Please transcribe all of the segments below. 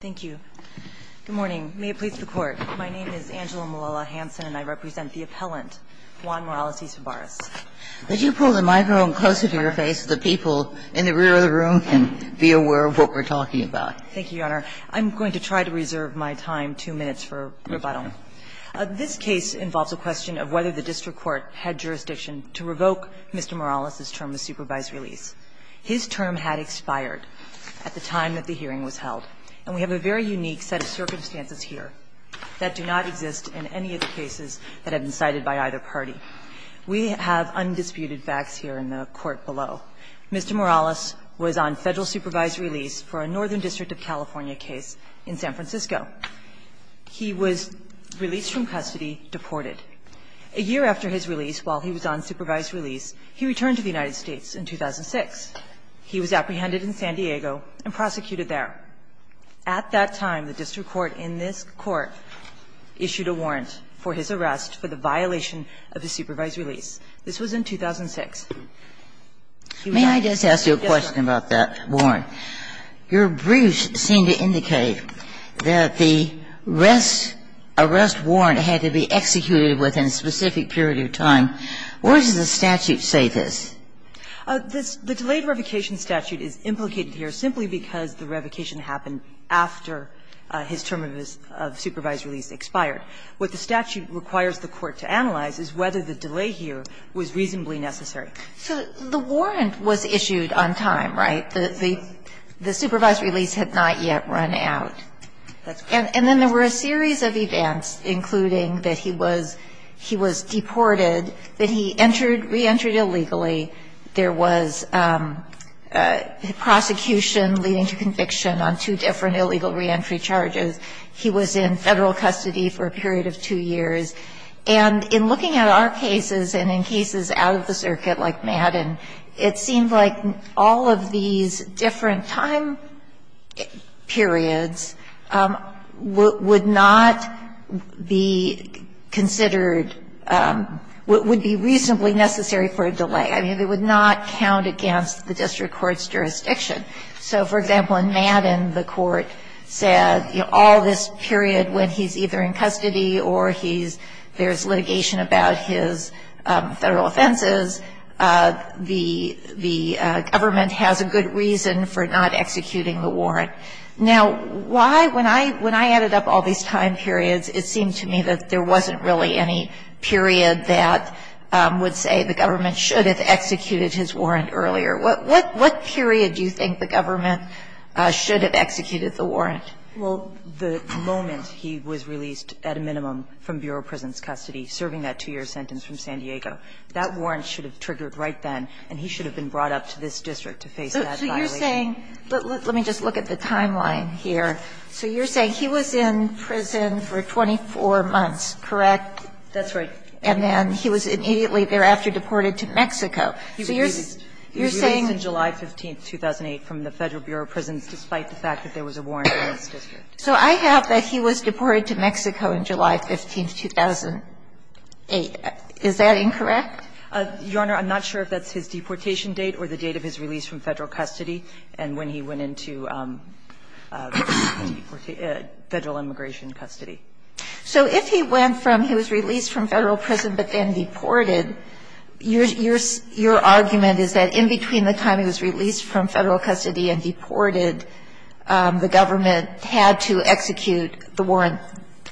Thank you. Good morning. May it please the Court, my name is Angela Malala-Hanson, and I represent the appellant, Juan Morales-Isabarras. Could you pull the microphone closer to your face so the people in the rear of the room can be aware of what we're talking about? Thank you, Your Honor. I'm going to try to reserve my time, two minutes, for rebuttal. This case involves a question of whether the district court had jurisdiction to revoke Mr. Morales's term of supervised release. His term had expired at the time that the hearing was held. And we have a very unique set of circumstances here that do not exist in any of the cases that have been cited by either party. We have undisputed facts here in the Court below. Mr. Morales was on Federal supervised release for a Northern District of California case in San Francisco. He was released from custody, deported. A year after his release, while he was on supervised release, he returned to the district court. In 2006, he was apprehended in San Diego and prosecuted there. At that time, the district court in this Court issued a warrant for his arrest for the violation of his supervised release. This was in 2006. He was not guilty. Ginsburg. May I just ask you a question about that warrant? Your briefs seem to indicate that the arrest warrant had to be executed within a specific period of time. Where does the statute say this? The delayed revocation statute is implicated here simply because the revocation happened after his term of supervised release expired. What the statute requires the Court to analyze is whether the delay here was reasonably necessary. So the warrant was issued on time, right? The supervised release had not yet run out. And then there were a series of events, including that he was deported, that he entered reentry illegally, there was prosecution leading to conviction on two different illegal reentry charges, he was in Federal custody for a period of two years. And in looking at our cases and in cases out of the circuit like Madden, it seemed like all of these different time periods would not be considered, would be reasonably necessary for a delay. I mean, they would not count against the district court's jurisdiction. So, for example, in Madden, the Court said, you know, all this period when he's either in custody or he's – there's litigation about his Federal offenses, the government has a good reason for not executing the warrant. Now, why – when I added up all these time periods, it seemed to me that there wasn't really any period that would say the government should have executed his warrant earlier. What period do you think the government should have executed the warrant? Well, the moment he was released at a minimum from bureau prison's custody, serving that two-year sentence from San Diego, that warrant should have triggered right then, and he should have been brought up to this district to face that violation. So you're saying – let me just look at the timeline here. So you're saying he was in prison for 24 months, correct? That's right. And then he was immediately thereafter deported to Mexico. So you're saying – He was released on July 15, 2008, from the Federal Bureau of Prisons, despite the fact that there was a warrant in this district. So I have that he was deported to Mexico on July 15, 2008. Is that incorrect? Your Honor, I'm not sure if that's his deportation date or the date of his release from Federal custody and when he went into Federal immigration custody. So if he went from – he was released from Federal prison but then deported, your argument is that in between the time he was released from Federal custody and deported, the government had to execute the warrant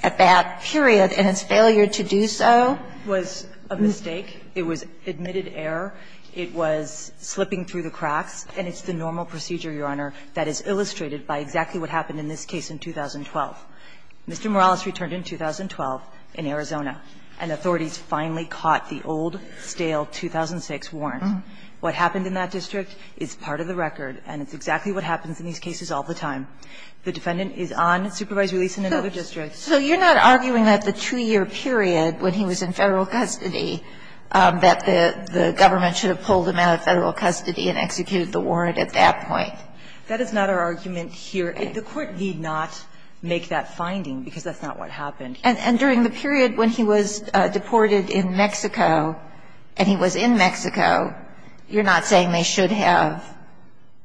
at that period, and its failure to do so was a mistake, it was admitted error, it was slipping through the cracks, and it's the normal procedure, Your Honor, that is illustrated by exactly what happened in this case in 2012. Mr. Morales returned in 2012 in Arizona, and authorities finally caught the old, stale 2006 warrant. What happened in that district is part of the record, and it's exactly what happens in these cases all the time. The defendant is on supervised release in another district. So you're not arguing that the 2-year period when he was in Federal custody, that the government should have pulled him out of Federal custody and executed the warrant at that point? That is not our argument here. The Court need not make that finding, because that's not what happened. And during the period when he was deported in Mexico, and he was in Mexico, you're not saying they should have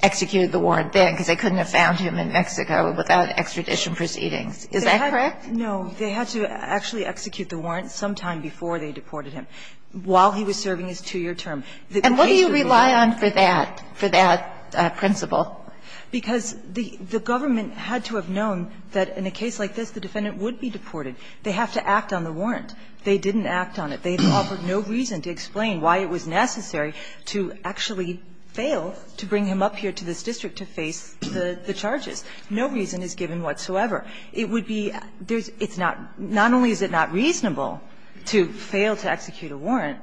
executed the warrant then, because they couldn't have found him in Mexico without extradition proceedings. Is that correct? No. They had to actually execute the warrant sometime before they deported him, while he was serving his 2-year term. And what do you rely on for that, for that principle? Because the government had to have known that in a case like this, the defendant would be deported. They have to act on the warrant. They didn't act on it. They offered no reason to explain why it was necessary to actually fail to bring him up here to this district to face the charges. No reason is given whatsoever. It would be there's not not only is it not reasonable to fail to execute a warrant,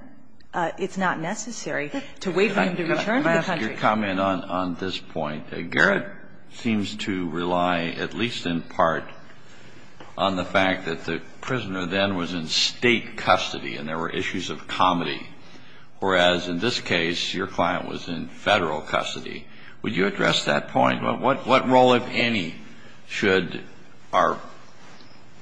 it's not necessary to wait for him to return to the country. Kennedy, your comment on this point, Garrett seems to rely at least in part on the fact that the prisoner then was in State custody, and there were issues of comedy, whereas in this case, your client was in Federal custody. Would you address that point? What role, if any, should our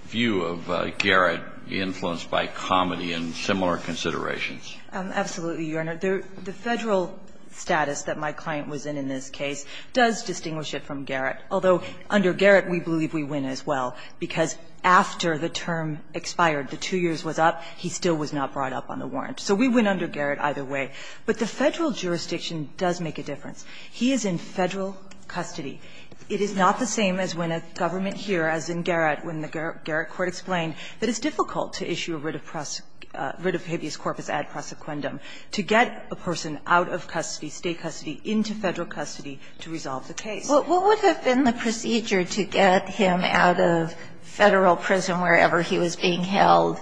view of Garrett be influenced by comedy and similar considerations? Absolutely, Your Honor. The Federal status that my client was in in this case does distinguish it from Garrett, although under Garrett we believe we win as well, because after the term expired, the two years was up, he still was not brought up on the warrant. So we win under Garrett either way. But the Federal jurisdiction does make a difference. He is in Federal custody. It is not the same as when a government here, as in Garrett, when the Garrett court explained that it's difficult to issue a writ of habeas corpus ad prosequendum to get a person out of custody, State custody, into Federal custody to resolve the case. What would have been the procedure to get him out of Federal prison, wherever he was being held,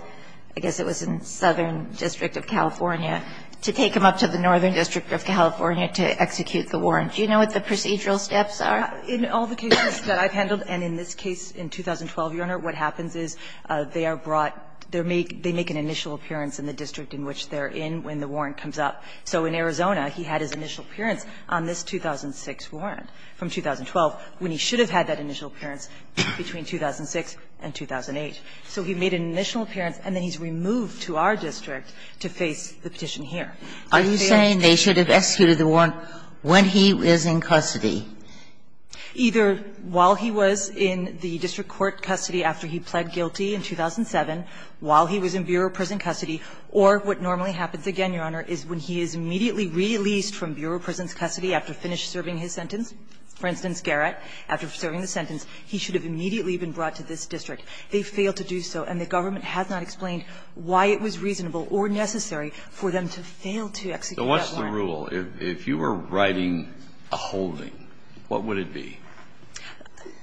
I guess it was in Southern District of California, to take him up to the Northern District of California to execute the warrant? Do you know what the procedural steps are? In all the cases that I've handled, and in this case in 2012, Your Honor, what happens is they are brought – they make an initial appearance in the district in which they are in when the warrant comes up. So in Arizona, he had his initial appearance on this 2006 warrant from 2012, when he should have had that initial appearance between 2006 and 2008. So he made an initial appearance, and then he's removed to our district to face the petition here. And if they are to be executed, they are to be brought into Federal custody. Sotomayor, they should have executed the warrant when he was in custody. Either while he was in the district court custody after he pled guilty in 2007, while he was in Bureau prison custody, or what normally happens again, Your Honor, is when he is immediately released from Bureau prison's custody after finished serving his sentence. For instance, Garrett, after serving his sentence, he should have immediately been brought to this district. They failed to do so, and the government has not explained why it was reasonable or necessary for them to fail to execute that warrant. So what's the rule? If you were writing a holding, what would it be?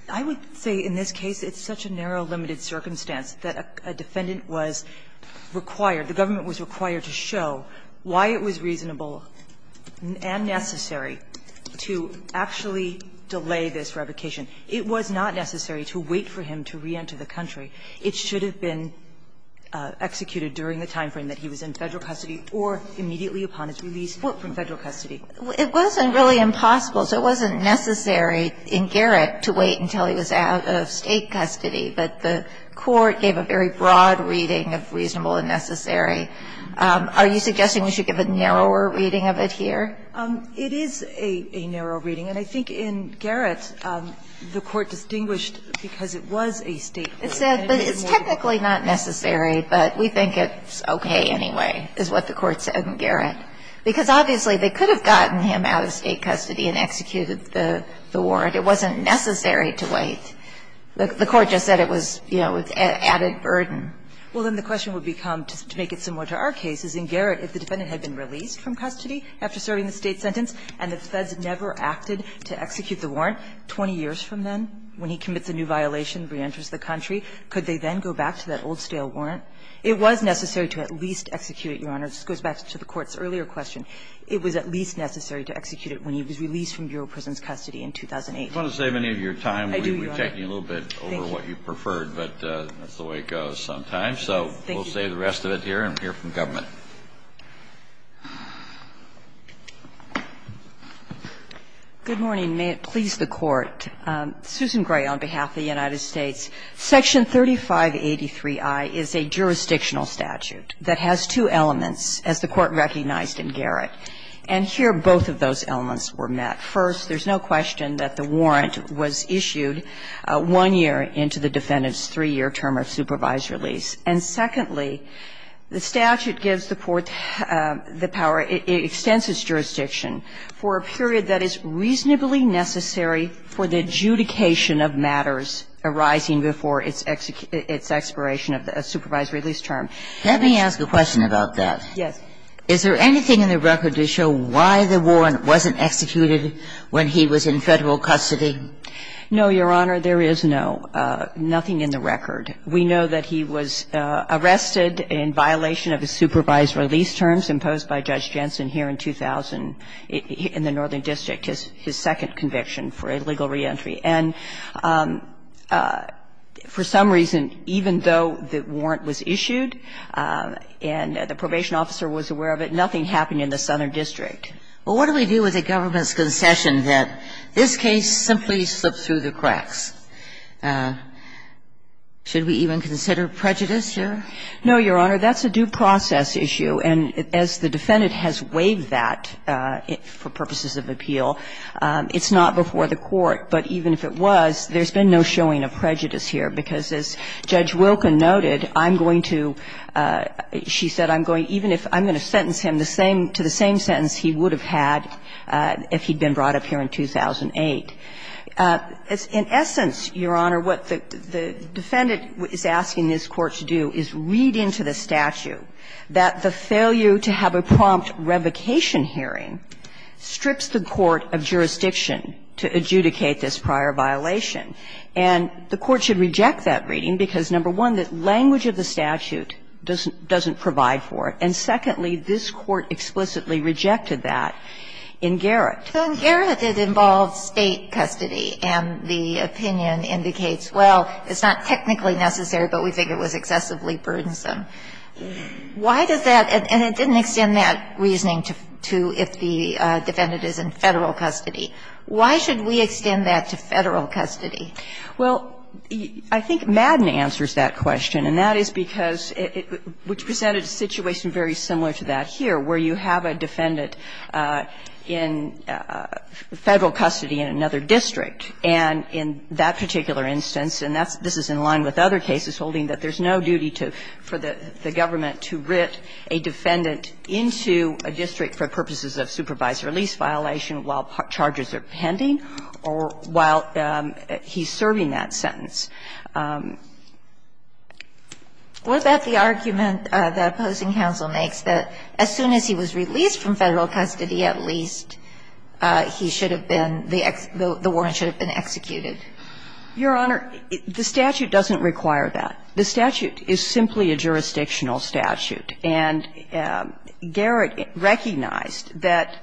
I would say in this case it's such a narrow, limited circumstance that a defendant was required, the government was required to show why it was reasonable and necessary to actually delay this revocation. It was not necessary to wait for him to reenter the country. It should have been executed during the time frame that he was in Federal custody or immediately upon his release from Federal custody. It wasn't really impossible, so it wasn't necessary in Garrett to wait until he was out of State custody. But the Court gave a very broad reading of reasonable and necessary. Are you suggesting we should give a narrower reading of it here? It is a narrow reading, and I think in Garrett, the Court distinguished because it was a State court. It said, but it's technically not necessary, but we think it's okay anyway, is what the Court said in Garrett. Because obviously, they could have gotten him out of State custody and executed the warrant. It wasn't necessary to wait. The Court just said it was, you know, added burden. Well, then the question would become, to make it similar to our case, is in Garrett, if the defendant had been released from custody after serving the State sentence and the Feds never acted to execute the warrant 20 years from then when he commits a new violation, reenters the country, could they then go back to that old-stale warrant? It was necessary to at least execute it, Your Honor. This goes back to the Court's earlier question. It was at least necessary to execute it when he was released from Bureau of Prisons Kennedy, I want to save any of your time. I do, Your Honor. I'm projecting a little bit over what you preferred, but that's the way it goes sometimes. So we'll save the rest of it here and hear from government. Good morning. May it please the Court. Susan Gray on behalf of the United States. Section 3583i is a jurisdictional statute that has two elements, as the Court recognized in Garrett. And here both of those elements were met. First, there's no question that the warrant was issued one year into the defendant's three-year term of supervised release. And secondly, the statute gives the Court the power, it extends its jurisdiction for a period that is reasonably necessary for the adjudication of matters arising before its expiration of a supervised release term. Let me ask a question about that. Yes. Is there anything in the record to show why the warrant wasn't executed when he was in Federal custody? No, Your Honor, there is no, nothing in the record. We know that he was arrested in violation of his supervised release terms imposed by Judge Jensen here in 2000 in the Northern District, his second conviction for illegal reentry. And for some reason, even though the warrant was issued and the probation officer was aware of it, nothing happened in the Southern District. Well, what do we do with a government's concession that this case simply slipped through the cracks? Should we even consider prejudice here? No, Your Honor. That's a due process issue. And as the defendant has waived that for purposes of appeal, it's not before the Court. But even if it was, there's been no showing of prejudice here, because as Judge Wilken noted, I'm going to, she said, I'm going, even if, I'm going to sentence him the same to the same sentence he would have had if he'd been brought up here in 2008. In essence, Your Honor, what the defendant is asking this Court to do is read into the statute that the failure to have a prompt revocation hearing strips the court of jurisdiction to adjudicate this prior violation. And the Court should reject that reading because, number one, the language of the statute doesn't provide for it. And secondly, this Court explicitly rejected that in Garrett. So in Garrett, it involves State custody, and the opinion indicates, well, it's not technically necessary, but we think it was excessively burdensome. Why does that – and it didn't extend that reasoning to if the defendant is in Federal custody. Why should we extend that to Federal custody? Well, I think Madden answers that question, and that is because it – which presented a situation very similar to that here, where you have a defendant in Federal custody in another district. And in that particular instance, and that's – this is in line with other cases holding that there's no duty to – for the government to writ a defendant into a district for purposes of supervisory lease violation while charges are pending or while he's serving that sentence. What about the argument that opposing counsel makes that as soon as he was released from Federal custody, at least he should have been – the warrant should have been executed? Your Honor, the statute doesn't require that. The statute is simply a jurisdictional statute. And Garrett recognized that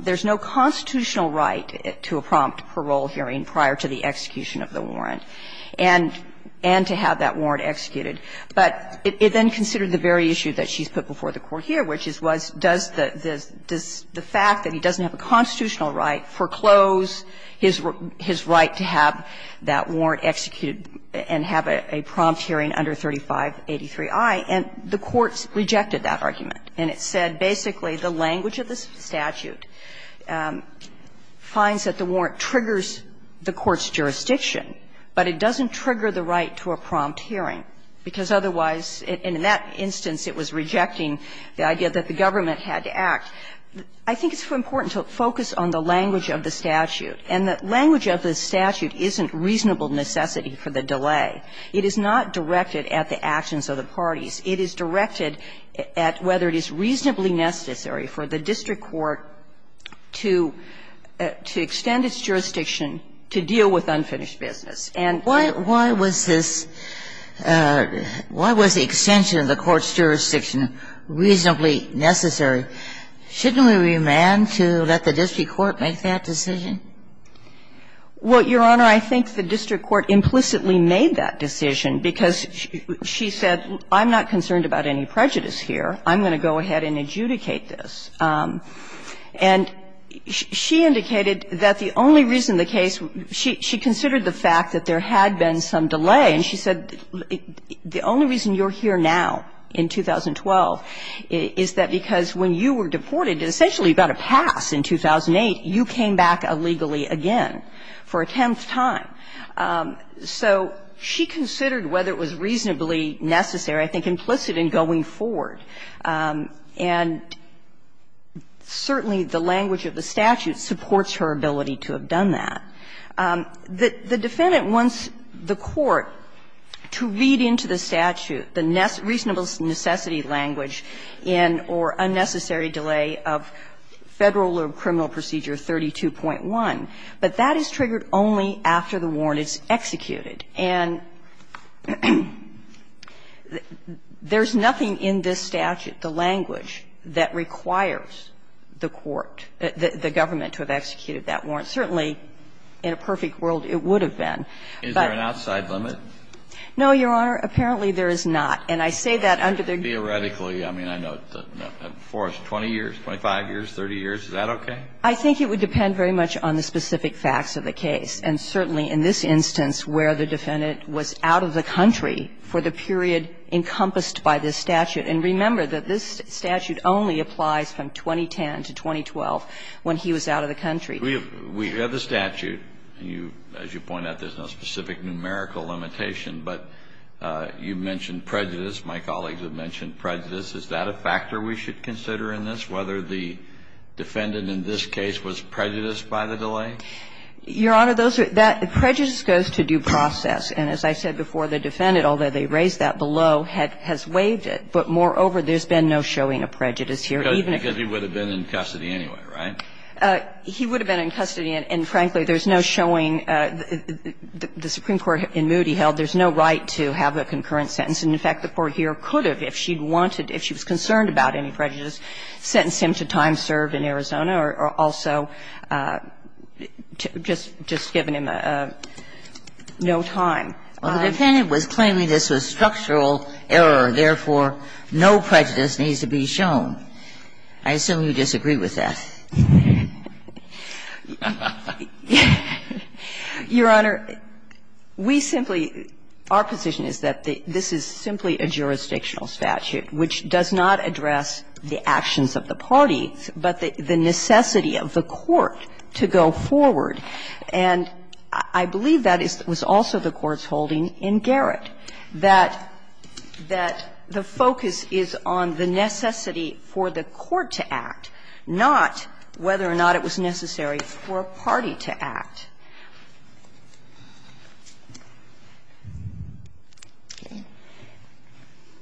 there's no constitutional right to a prompt parole hearing prior to the execution of the warrant and to have that warrant executed. But it then considered the very issue that she's put before the Court here, which is, was, does the fact that he doesn't have a constitutional right foreclose his right to have that warrant executed and have a prompt hearing under 3583i? And the Court rejected that argument. And it said basically the language of the statute finds that the warrant triggers the Court's jurisdiction, but it doesn't trigger the right to a prompt hearing, because otherwise – and in that instance it was rejecting the idea that the government had to act. I think it's important to focus on the language of the statute. And the language of the statute isn't reasonable necessity for the delay. It is not directed at the actions of the parties. It is directed at whether it is reasonably necessary for the district court to – to extend its jurisdiction to deal with unfinished business. And why – why was this – why was the extension of the court's jurisdiction reasonably necessary? Shouldn't we remand to let the district court make that decision? Well, Your Honor, I think the district court implicitly made that decision because she said, I'm not concerned about any prejudice here. I'm going to go ahead and adjudicate this. And she indicated that the only reason the case – she considered the fact that there had been some delay, and she said the only reason you're here now in 2012 is that because when you were deported, essentially you got a pass in 2008, you came back illegally again for a tenth time. So she considered whether it was reasonably necessary, I think implicit in going forward. And certainly the language of the statute supports her ability to have done that. The defendant wants the court to read into the statute the reasonable necessity language in or unnecessary delay of Federal Criminal Procedure 32.1. But that is triggered only after the warrant is executed. And there's nothing in this statute, the language, that requires the court, the government to have executed that warrant. Certainly, in a perfect world, it would have been. But – Is there an outside limit? No, Your Honor. Apparently, there is not. And I say that under the – Theoretically, I mean, I know, for us, 20 years, 25 years, 30 years, is that okay? I think it would depend very much on the specific facts of the case. And certainly in this instance, where the defendant was out of the country for the period encompassed by this statute. And remember that this statute only applies from 2010 to 2012, when he was out of the country. We have the statute, and you – as you point out, there's no specific numerical limitation. But you mentioned prejudice. My colleagues have mentioned prejudice. Is that a factor we should consider in this, whether the defendant in this case was prejudiced by the delay? Your Honor, those are – that prejudice goes to due process. And as I said before, the defendant, although they raised that below, has waived it. But moreover, there's been no showing of prejudice here, even if he – Because he would have been in custody anyway, right? He would have been in custody, and frankly, there's no showing. The Supreme Court in Moody held there's no right to have a concurrent sentence. And in fact, the Court here could have, if she'd wanted, if she was concerned about any prejudice, sentenced him to time served in Arizona or also just given him a – no time. Well, the defendant was claiming this was structural error, therefore, no prejudice needs to be shown. I assume you disagree with that. Your Honor, we simply – our position is that this is simply a jurisdictional statute which does not address the actions of the parties, but the necessity of the court to go forward. And I believe that is – was also the Court's holding in Garrett, that the focus is on the necessity for the court to act, not whether or not it was necessary for a party to act.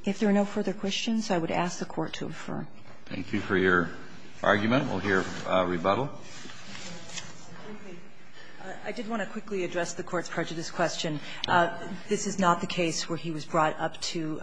If there are no further questions, I would ask the Court to refer. Thank you for your argument. We'll hear rebuttal. I did want to quickly address the Court's prejudice question. This is not the case where he was brought up to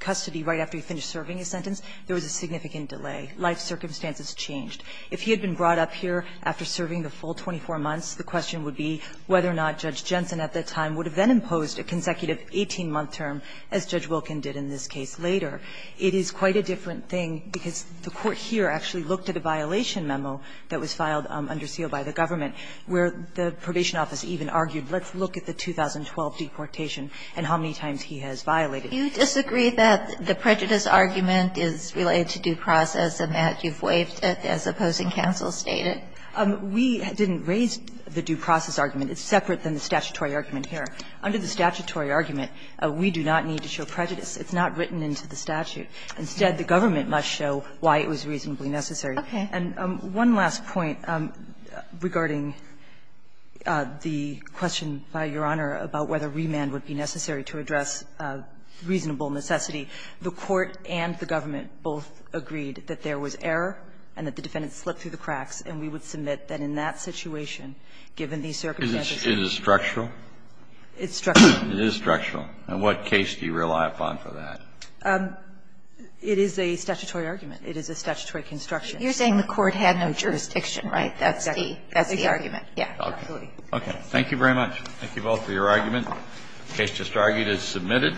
custody right after he finished serving his sentence. There was a significant delay. Life circumstances changed. If he had been brought up here after serving the full 24 months, the question would be whether or not Judge Jensen at that time would have then imposed a consecutive 18-month term as Judge Wilkin did in this case later. It is quite a different thing because the Court here actually looked at a violation memo that was filed under seal by the government where the Probation Office even looked at the 2012 deportation and how many times he has violated it. Do you disagree that the prejudice argument is related to due process and that you've waived it as opposing counsel stated? We didn't raise the due process argument. It's separate than the statutory argument here. Under the statutory argument, we do not need to show prejudice. It's not written into the statute. Instead, the government must show why it was reasonably necessary. Okay. And one last point regarding the question, Your Honor, about whether remand would be necessary to address reasonable necessity. The Court and the government both agreed that there was error and that the defendant slipped through the cracks, and we would submit that in that situation, given these circumstances. Is it structural? It's structural. It is structural. And what case do you rely upon for that? It is a statutory argument. It is a statutory construction. You're saying the Court had no jurisdiction, right? That's the argument. Yeah. Okay. Okay. Thank you very much. Thank you both for your argument. The case just argued is submitted.